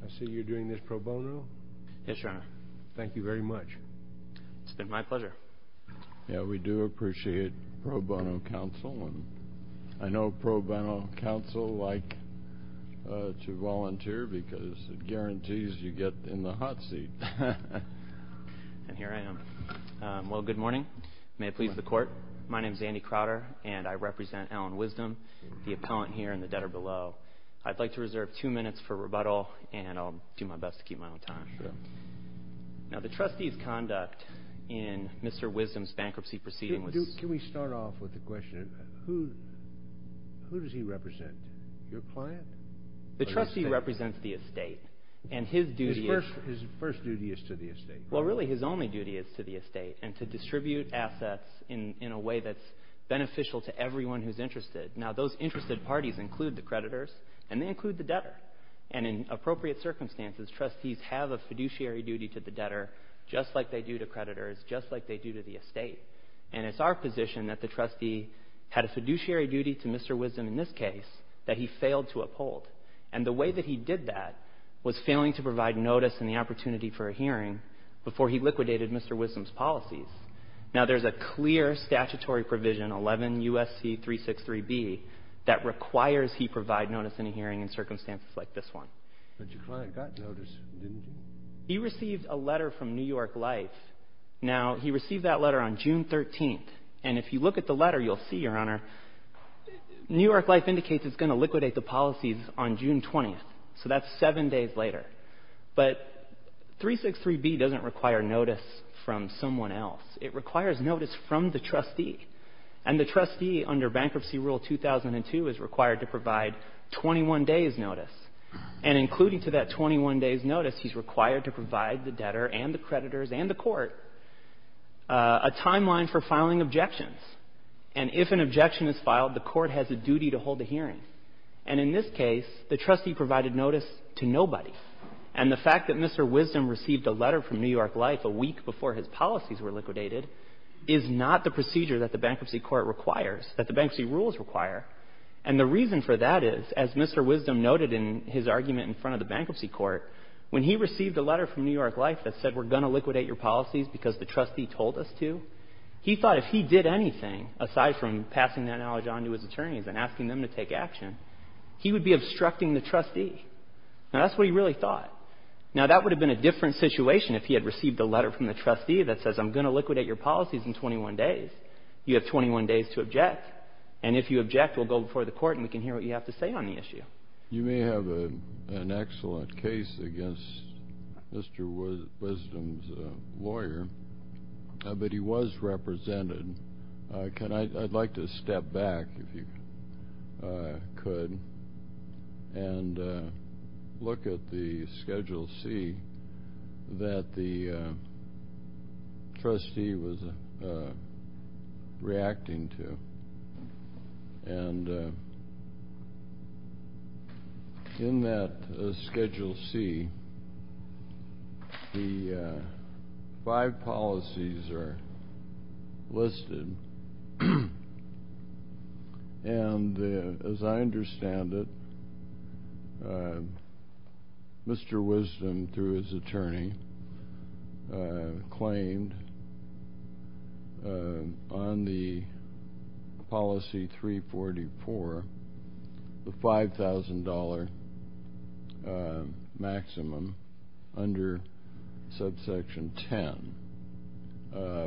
I see you're doing this pro bono? Yes, Your Honor. Thank you very much. It's been my pleasure. Yeah, we do appreciate pro bono counsel. I know pro bono counsel like to volunteer because it guarantees you get in the hot seat. And here I am. Well, good morning. May it please the court. My name is Andy Crowder and I represent Allen Wisdom, the appellant here in the debtor below. I'd like to reserve two minutes for rebuttal and I'll do my best to keep my own time. Now the trustee's conduct in Mr. Wisdom's bankruptcy proceeding was... Can we start off with the question, who does he represent? Your client? The trustee represents the estate and his duty is... His first duty is to the estate. Well, really his only duty is to the estate and to distribute assets in a way that's beneficial to everyone who's interested. Now those interested parties include the creditors and they include the debtor. And in appropriate circumstances, trustees have a fiduciary duty to the debtor just like they do to creditors, just like they do to the estate. And it's our position that the trustee had a fiduciary duty to Mr. Wisdom in this case that he failed to uphold. And the way that he did that was failing to provide notice and the opportunity for a hearing before he liquidated Mr. Wisdom's policies. Now there's a clear statutory provision, 11 U.S.C. 363B, that requires he provide notice in a hearing in circumstances like this one. But your client got notice, didn't he? He received a letter from New York Life. Now he received that letter on June 13th. And if you look at the letter, you'll see, Your Honor, New York Life indicates it's going to liquidate the policies on June 20th. So that's seven days later. But 363B doesn't require notice from someone else. It requires notice from the trustee. And the trustee, under Bankruptcy Rule 2002, is required to provide 21 days' notice. And including to that 21 days' notice, he's required to provide the debtor and the creditors and the court a timeline for filing objections. And if an objection is filed, the court has a duty to hold a hearing. And in this case, the trustee provided notice to nobody. And the fact that Mr. Wisdom received a letter from New York Life a week before his policies were liquidated is not the procedure that the Bankruptcy Court requires, that the Bankruptcy Rules require. And the reason for that is, as Mr. Wisdom noted in his argument in front of the Bankruptcy Court, when he received a letter from New York Life that said, We're going to liquidate your policies because the trustee told us to, he thought if he did anything, aside from take action, he would be obstructing the trustee. Now, that's what he really thought. Now, that would have been a different situation if he had received a letter from the trustee that says, I'm going to liquidate your policies in 21 days. You have 21 days to object. And if you object, we'll go before the court and we can hear what you have to say on the issue. You may have an excellent case against Mr. Wisdom's lawyer, but he was represented. I'd like to step back, if you could, and look at the Schedule C that the trustee was reacting to. And in that Schedule C, the five policies are listed, and as I understand it, Mr. Wisdom, through his attorney, claimed on the Policy 344, the $5,000 maximum under Subsection 10,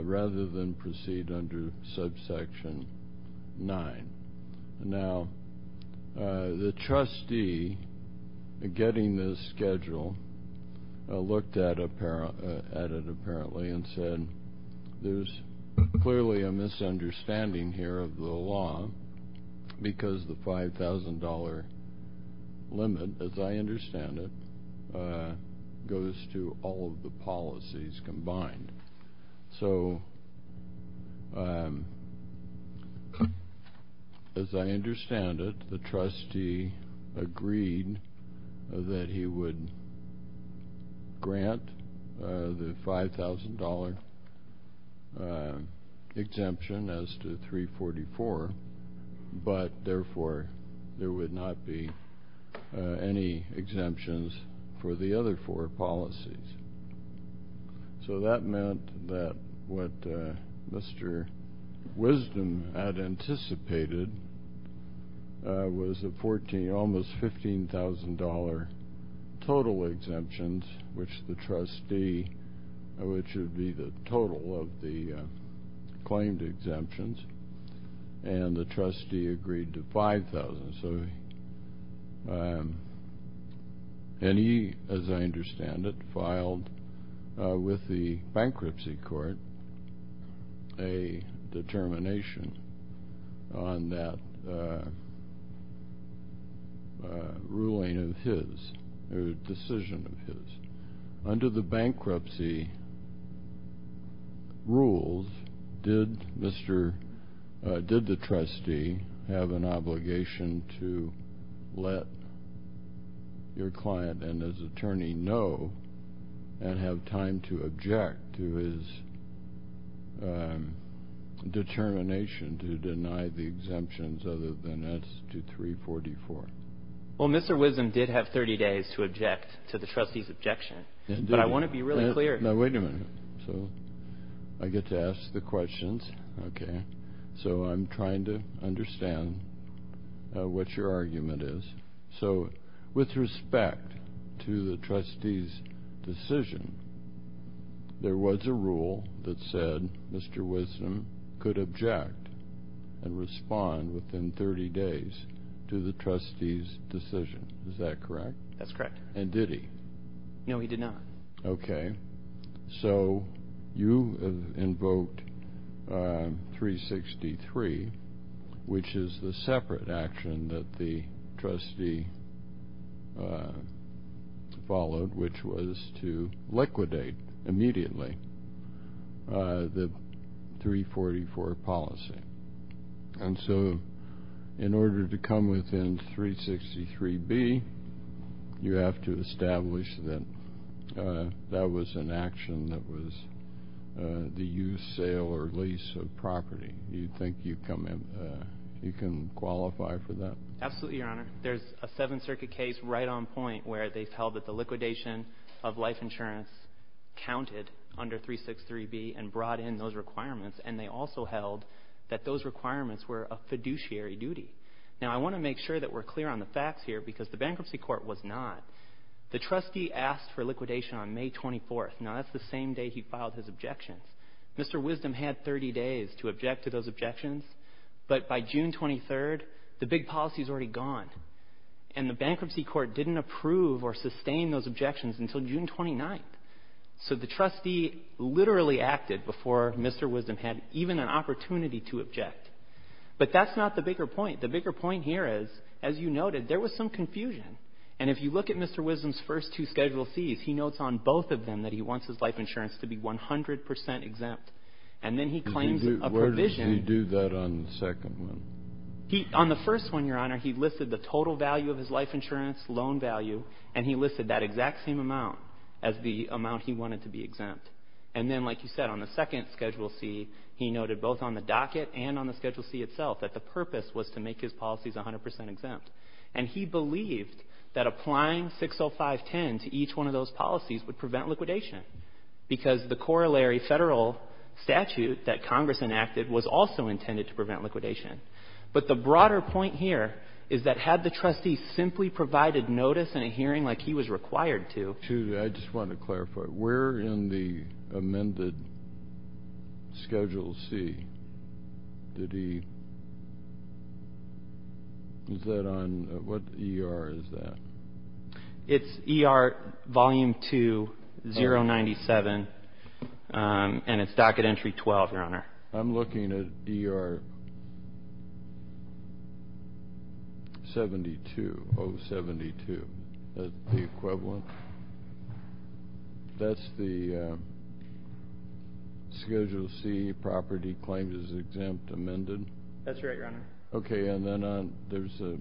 rather than proceed under Subsection 9. Now, the trustee, getting this schedule, looked at it apparently and said, there's clearly a misunderstanding here of the law, because the $5,000 limit, as I understand it, goes to all of the policies combined. So, as I understand it, the trustee agreed that he would grant the $5,000 exemption as to 344, but therefore, there would not be any exemptions for the other four policies. So that meant that what Mr. Wisdom had anticipated was almost $15,000 total exemptions, which the trustee, which would be the total of the claimed exemptions, and the trustee agreed to $5,000. So, and he, as I understand it, filed with the Bankruptcy Court a determination on that ruling of his, or decision of his. Under the bankruptcy rules, did Mr., did the trustee have an obligation to let your client and his attorney know and have time to object to his determination to deny the exemptions other than as to 344? Well, Mr. Wisdom did have 30 days to object to the trustee's objection, but I want to be really clear. Now, wait a minute. So, I get to ask the questions, okay? So, I'm trying to understand what your argument is. So, with respect to the trustee's decision, there was a rule that said Mr. Wisdom could object and respond within 30 days to the trustee's decision. Is that correct? That's correct. And did he? No, he did not. Okay. So, you invoked 363, which is the separate action that the trustee followed, which was to liquidate immediately the 344 policy. And so, in order to come within 363B, you have to establish that that was an action that was the use, sale, or lease of property. Do you think you can qualify for that? Absolutely, Your Honor. There's a Seventh Circuit case right on point where they've held that the liquidation of life insurance counted under 363B and brought in those requirements, and they also held that those requirements were a fiduciary duty. Now, I want to make sure that we're clear on the facts here because the bankruptcy court was not. The trustee asked for liquidation on May 24th. Now, that's the same day he filed his objections. Mr. Wisdom had 30 days to object to those objections, but by June 23rd, the big policy is already gone. And the bankruptcy court didn't approve or sustain those objections until June 29th. So, the trustee literally acted before Mr. Wisdom had even an opportunity to object. But that's not the bigger point. The bigger point here is, as you noted, there was some confusion. And if you look at Mr. Wisdom's first two Schedule Cs, he notes on both of them that he wants his life insurance to be 100 percent exempt. And then he claims a provision. Where does he do that on the second one? On the first one, Your Honor, he listed the total value of his life insurance, loan value, and he listed that exact same amount as the amount he wanted to be exempt. And then, like you said, on the second Schedule C, he noted both on the docket and on the Schedule C itself that the purpose was to make his policies 100 percent exempt. And he believed that applying 60510 to each one of those policies would prevent liquidation because the corollary federal statute that Congress enacted was also intended to prevent liquidation. But the broader point here is that had the trustee simply provided notice in a hearing like he was required to. I just want to clarify. Where in the amended Schedule C did he – is that on – what ER is that? It's ER Volume 2, 097, and it's Docket Entry 12, Your Honor. I'm looking at ER 72, 072, the equivalent. That's the Schedule C property claims is exempt amended? That's right, Your Honor. Okay, and then there's a –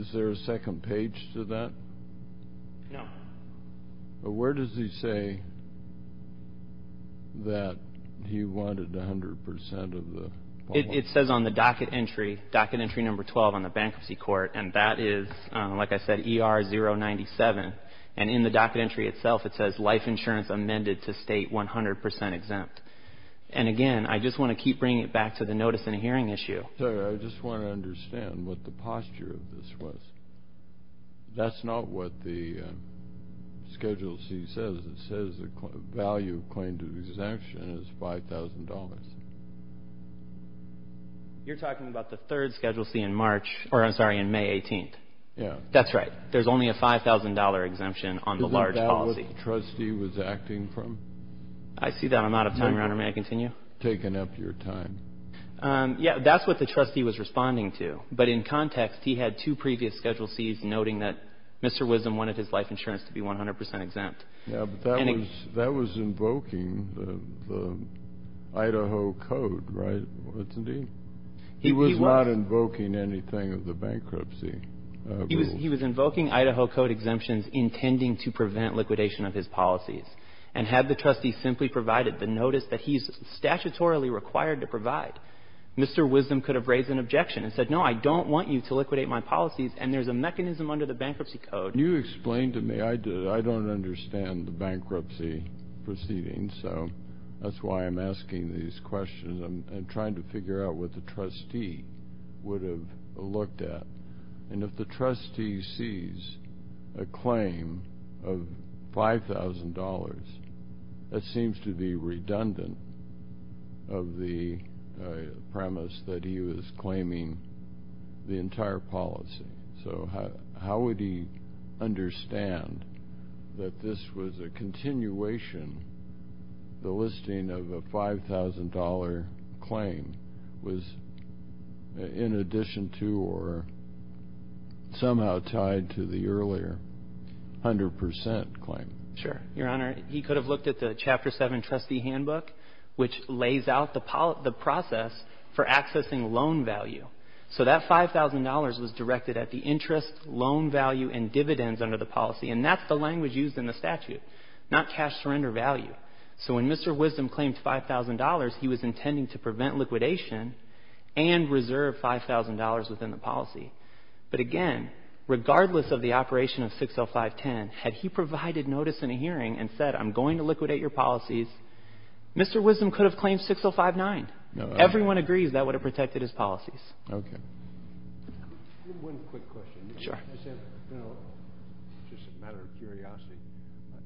is there a second page to that? No. Where does he say that he wanted 100 percent of the – It says on the docket entry, Docket Entry 12 on the Bankruptcy Court, and that is, like I said, ER 097. And in the docket entry itself, it says life insurance amended to state 100 percent exempt. And, again, I just want to keep bringing it back to the notice in a hearing issue. Sir, I just want to understand what the posture of this was. That's not what the Schedule C says. It says the value of claim to exemption is $5,000. You're talking about the third Schedule C in March – or, I'm sorry, in May 18th. Yeah. That's right. There's only a $5,000 exemption on the large policy. Is that what the trustee was acting from? I see that. I'm out of time, Your Honor. May I continue? Taking up your time. Yeah, that's what the trustee was responding to. But in context, he had two previous Schedule Cs noting that Mr. Wisdom wanted his life insurance to be 100 percent exempt. Yeah, but that was invoking the Idaho Code, right? Wasn't he? He was not invoking anything of the bankruptcy rules. He was invoking Idaho Code exemptions intending to prevent liquidation of his policies and have the trustee simply provided the notice that he's statutorily required to provide. Mr. Wisdom could have raised an objection and said, no, I don't want you to liquidate my policies, and there's a mechanism under the bankruptcy code. Can you explain to me? I don't understand the bankruptcy proceedings, so that's why I'm asking these questions. I'm trying to figure out what the trustee would have looked at. And if the trustee sees a claim of $5,000, that seems to be redundant of the premise that he was claiming the entire policy. So how would he understand that this was a continuation, the listing of a $5,000 claim was in addition to or somehow tied to the earlier 100 percent claim? Sure. Your Honor, he could have looked at the Chapter 7 trustee handbook, which lays out the process for accessing loan value. So that $5,000 was directed at the interest, loan value, and dividends under the policy, and that's the language used in the statute, not cash surrender value. So when Mr. Wisdom claimed $5,000, he was intending to prevent liquidation and reserve $5,000 within the policy. But again, regardless of the operation of 60510, had he provided notice in a hearing and said, I'm going to liquidate your policies, Mr. Wisdom could have claimed 6059. Everyone agrees that would have protected his policies. Okay. One quick question. Sure. I said, you know, just a matter of curiosity,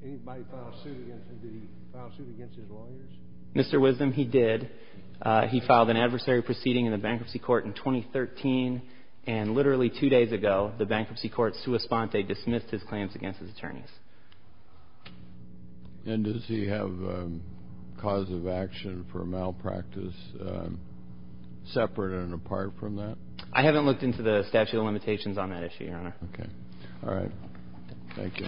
anybody file a suit against him, did he file a suit against his lawyers? Mr. Wisdom, he did. He filed an adversary proceeding in the bankruptcy court in 2013, and literally two days ago the bankruptcy court, sua sponte, dismissed his claims against his attorneys. And does he have a cause of action for malpractice separate and apart from that? I haven't looked into the statute of limitations on that issue, Your Honor. Okay. All right. Thank you.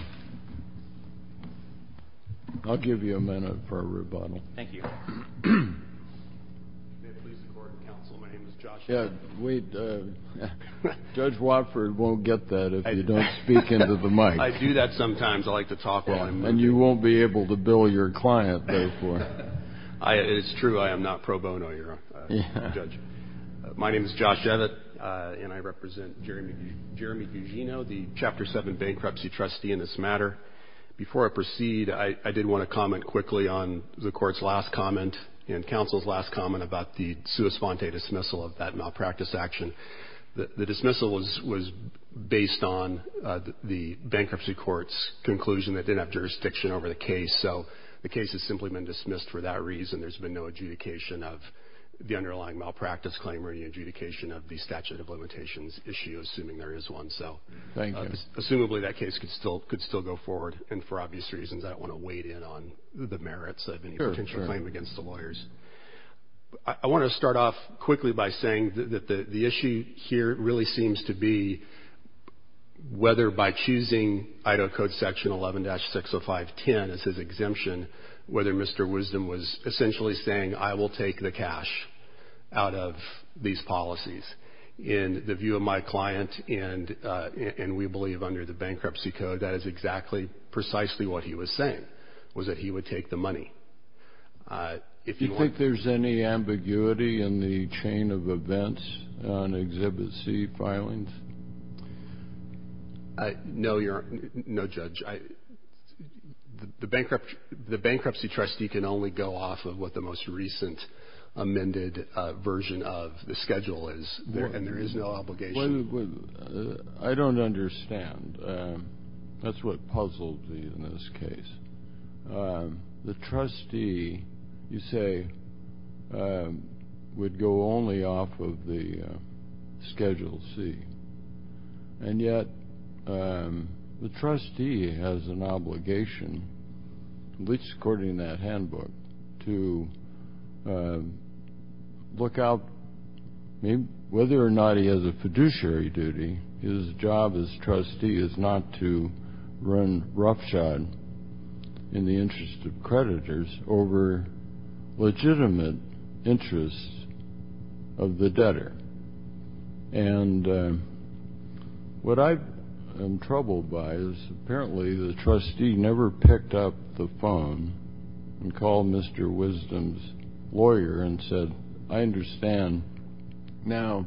I'll give you a minute for a rebuttal. Thank you. Judge Watford won't get that if you don't speak into the mic. I do that sometimes. I like to talk while I'm moving. And you won't be able to bill your client, therefore. It's true. I am not pro bono, Your Honor. My name is Josh Evatt, and I represent Jeremy Gugino, the Chapter 7 bankruptcy trustee in this matter. Before I proceed, I did want to comment quickly on the court's last comment and counsel's last comment about the sua sponte dismissal of that malpractice action. The dismissal was based on the bankruptcy court's conclusion that they didn't have jurisdiction over the case, so the case has simply been dismissed for that reason. There's been no adjudication of the underlying malpractice claim or the adjudication of the statute of limitations issue, assuming there is one. Thank you. Assumably, that case could still go forward, and for obvious reasons I don't want to weight in on the merits of any potential claim against the lawyers. I want to start off quickly by saying that the issue here really seems to be whether by choosing Idaho Code Section 11-60510 as his exemption, whether Mr. Wisdom was essentially saying, I will take the cash out of these policies. In the view of my client, and we believe under the bankruptcy code, that is exactly precisely what he was saying, was that he would take the money. Do you think there's any ambiguity in the chain of events on Exhibit C filings? No, Judge. The bankruptcy trustee can only go off of what the most recent amended version of the schedule is, and there is no obligation. I don't understand. That's what puzzled me in this case. The trustee, you say, would go only off of the Schedule C, and yet the trustee has an obligation, at least according to that handbook, to look out whether or not he has a fiduciary duty. His job as trustee is not to run roughshod in the interest of creditors over legitimate interests of the debtor. And what I am troubled by is apparently the trustee never picked up the phone and called Mr. Wisdom's lawyer and said, I understand now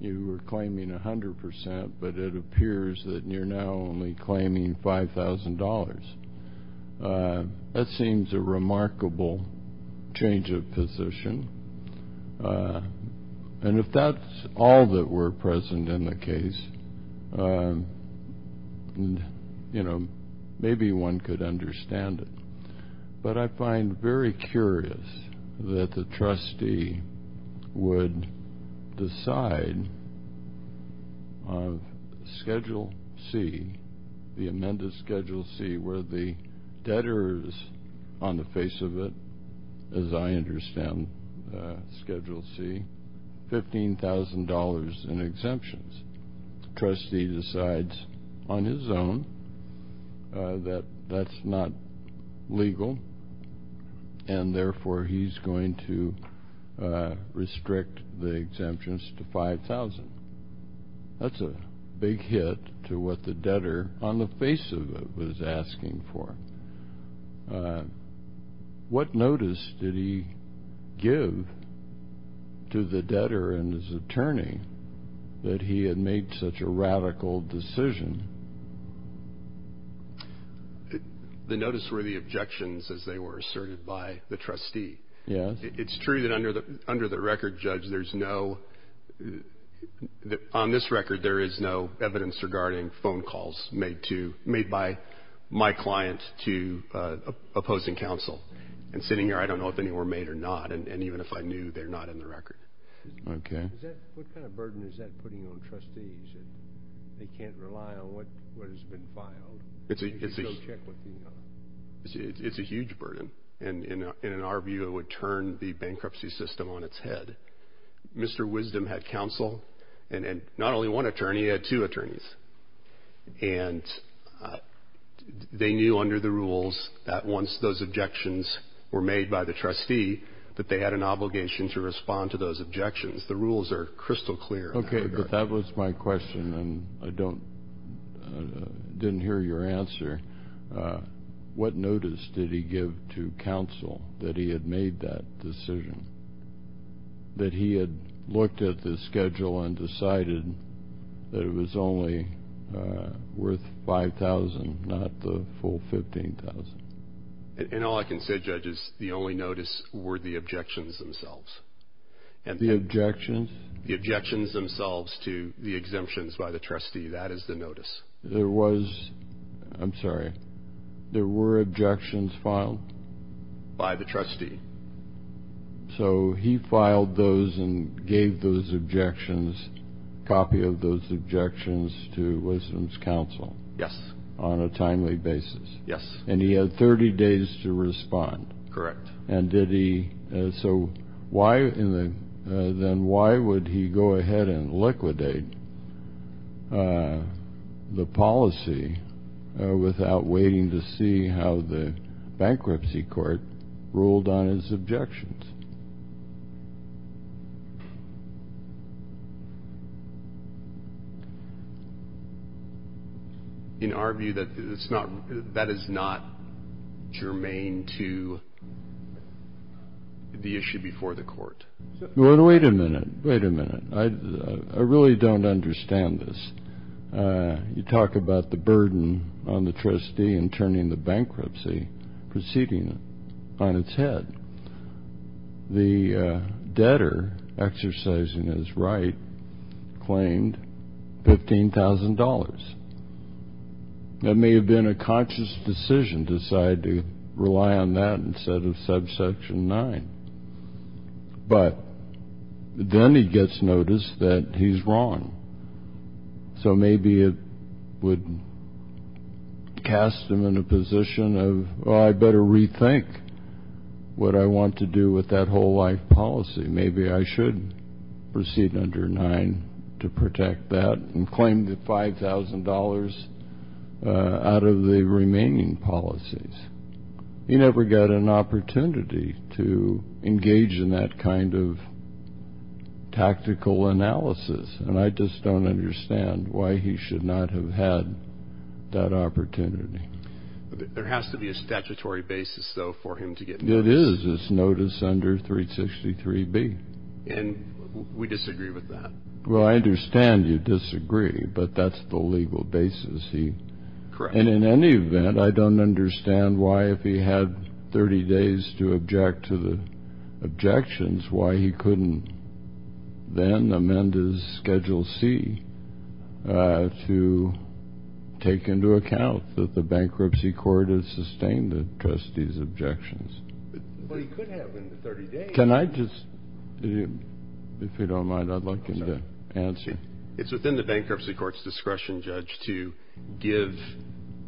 you are claiming 100 percent, but it appears that you're now only claiming $5,000. That seems a remarkable change of position, and if that's all that were present in the case, you know, maybe one could understand it. But I find very curious that the trustee would decide on Schedule C, the amended Schedule C, where the debtor is on the face of it, as I understand Schedule C, $15,000 in exemptions. The trustee decides on his own that that's not legal, and therefore he's going to restrict the exemptions to $5,000. That's a big hit to what the debtor on the face of it was asking for. What notice did he give to the debtor and his attorney that he had made such a radical decision? The notice were the objections as they were asserted by the trustee. Yes. It's true that under the record, Judge, there's no, on this record there is no evidence regarding phone calls made to, my client, to opposing counsel. And sitting here, I don't know if any were made or not, and even if I knew, they're not in the record. Okay. What kind of burden is that putting on trustees that they can't rely on what has been filed? It's a huge burden, and in our view it would turn the bankruptcy system on its head. Mr. Wisdom had counsel, and not only one attorney, he had two attorneys. And they knew under the rules that once those objections were made by the trustee that they had an obligation to respond to those objections. The rules are crystal clear. Okay, but that was my question, and I didn't hear your answer. What notice did he give to counsel that he had made that decision, that he had looked at the schedule and decided that it was only worth $5,000, not the full $15,000? And all I can say, Judge, is the only notice were the objections themselves. The objections? The objections themselves to the exemptions by the trustee. That is the notice. There was, I'm sorry, there were objections filed? By the trustee. So he filed those and gave those objections, a copy of those objections to Wisdom's counsel? Yes. On a timely basis? Yes. And he had 30 days to respond? Correct. And did he, so why, then why would he go ahead and liquidate the policy without waiting to see how the bankruptcy court ruled on his objections? In our view, that is not germane to the issue before the court. Well, wait a minute, wait a minute. I really don't understand this. You talk about the burden on the trustee in turning the bankruptcy proceeding on its head. The debtor exercising his right claimed $15,000. It may have been a conscious decision to decide to rely on that instead of subsection 9. But then he gets notice that he's wrong. So maybe it would cast him in a position of, oh, I better rethink what I want to do with that whole life policy. Maybe I should proceed under 9 to protect that and claim the $5,000 out of the remaining policies. He never got an opportunity to engage in that kind of tactical analysis. And I just don't understand why he should not have had that opportunity. There has to be a statutory basis, though, for him to get notice. It is. It's notice under 363B. And we disagree with that. Well, I understand you disagree, but that's the legal basis. Correct. And in any event, I don't understand why, if he had 30 days to object to the objections, why he couldn't then amend his Schedule C to take into account that the bankruptcy court has sustained the trustee's objections. But he could have in the 30 days. Can I just, if you don't mind, I'd like him to answer. It's within the bankruptcy court's discretion, Judge, to give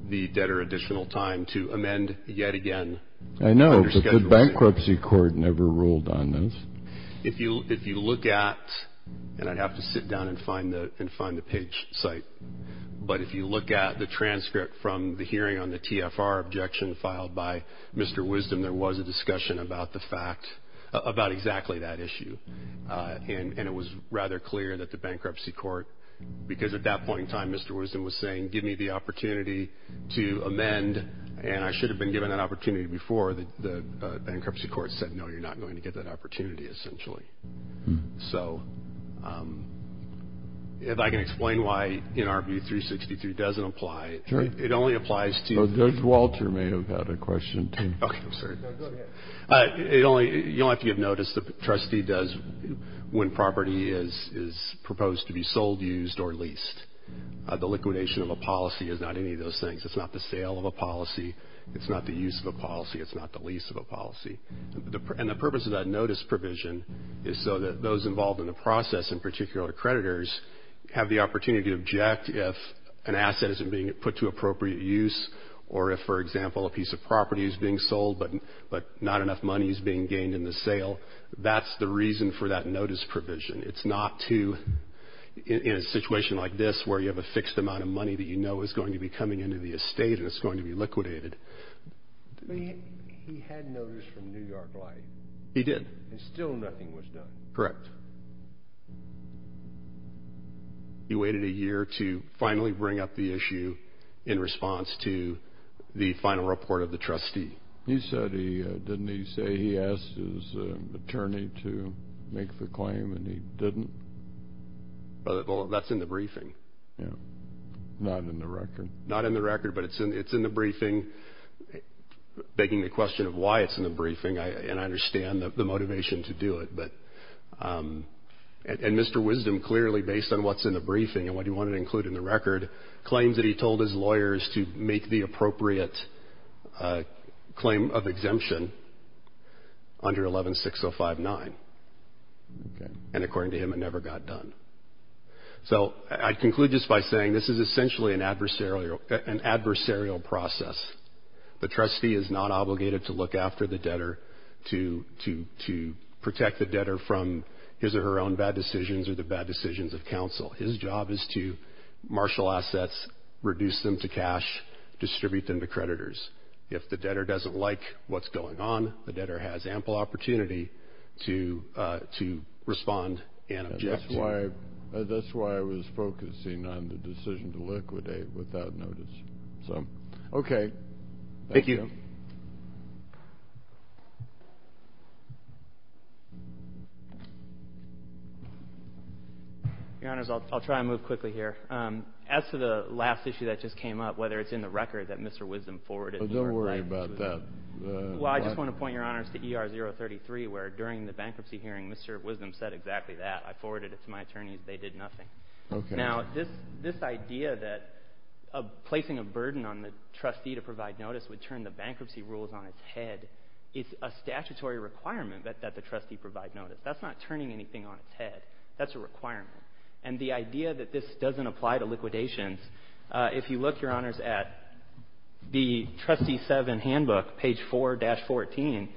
the debtor additional time to amend yet again. I know, but the bankruptcy court never ruled on this. If you look at, and I'd have to sit down and find the page site, but if you look at the transcript from the hearing on the TFR objection filed by Mr. Wisdom, there was a discussion about the fact, about exactly that issue. And it was rather clear that the bankruptcy court, because at that point in time Mr. Wisdom was saying, give me the opportunity to amend, and I should have been given that opportunity before the bankruptcy court said, no, you're not going to get that opportunity essentially. So if I can explain why, in our view, 363 doesn't apply, it only applies to you. Judge Walter may have had a question too. Okay, I'm sorry. Go ahead. You don't have to give notice. The trustee does when property is proposed to be sold, used, or leased. The liquidation of a policy is not any of those things. It's not the sale of a policy. It's not the use of a policy. It's not the lease of a policy. And the purpose of that notice provision is so that those involved in the process, in particular creditors, have the opportunity to object if an asset isn't being put to appropriate use or if, for example, a piece of property is being sold but not enough money is being gained in the sale. That's the reason for that notice provision. It's not to, in a situation like this where you have a fixed amount of money that you know is going to be coming into the estate and it's going to be liquidated. He had notice from New York Life. He did. And still nothing was done. Correct. He waited a year to finally bring up the issue in response to the final report of the trustee. He said he, didn't he say he asked his attorney to make the claim and he didn't? Well, that's in the briefing. Not in the record. Not in the record, but it's in the briefing. Begging the question of why it's in the briefing, and I understand the motivation to do it. And Mr. Wisdom clearly, based on what's in the briefing and what he wanted to include in the record, claims that he told his lawyers to make the appropriate claim of exemption under 116059. And according to him, it never got done. So I conclude this by saying this is essentially an adversarial process. The trustee is not obligated to look after the debtor to protect the debtor from his or her own bad decisions or the bad decisions of counsel. His job is to marshal assets, reduce them to cash, distribute them to creditors. If the debtor doesn't like what's going on, the debtor has ample opportunity to respond and object. That's why I was focusing on the decision to liquidate without notice. Okay. Thank you. Your Honors, I'll try to move quickly here. As to the last issue that just came up, whether it's in the record that Mr. Wisdom forwarded. Don't worry about that. Well, I just want to point, Your Honors, to ER033 where during the bankruptcy hearing Mr. Wisdom said exactly that. I forwarded it to my attorneys. They did nothing. Okay. Now, this idea that placing a burden on the trustee to provide notice would turn the bankruptcy rules on its head is a statutory requirement that the trustee provide notice. That's not turning anything on its head. That's a requirement. And the idea that this doesn't apply to liquidations, if you look, Your Honors, at the Trustee 7 handbook, page 4-14,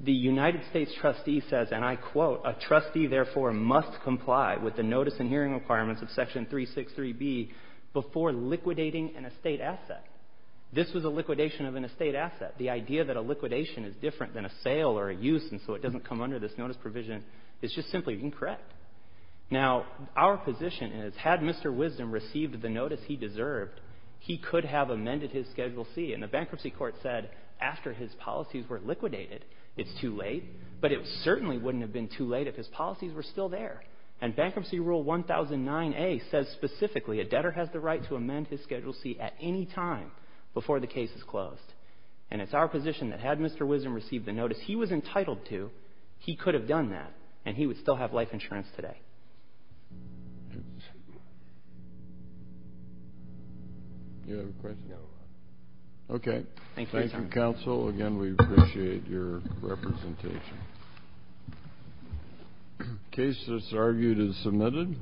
the United States trustee says, and I quote, a trustee therefore must comply with the notice and hearing requirements of Section 363B before liquidating an estate asset. This was a liquidation of an estate asset. The idea that a liquidation is different than a sale or a use and so it doesn't come under this notice provision is just simply incorrect. Now, our position is had Mr. Wisdom received the notice he deserved, he could have amended his Schedule C. And the bankruptcy court said after his policies were liquidated, it's too late, but it certainly wouldn't have been too late if his policies were still there. And Bankruptcy Rule 1009A says specifically a debtor has the right to amend his Schedule C at any time before the case is closed. And it's our position that had Mr. Wisdom received the notice he was entitled to, he could have done that, and he would still have life insurance today. Do you have a question? No. Okay. Thank you, counsel. Again, we appreciate your representation. The case that's argued is submitted.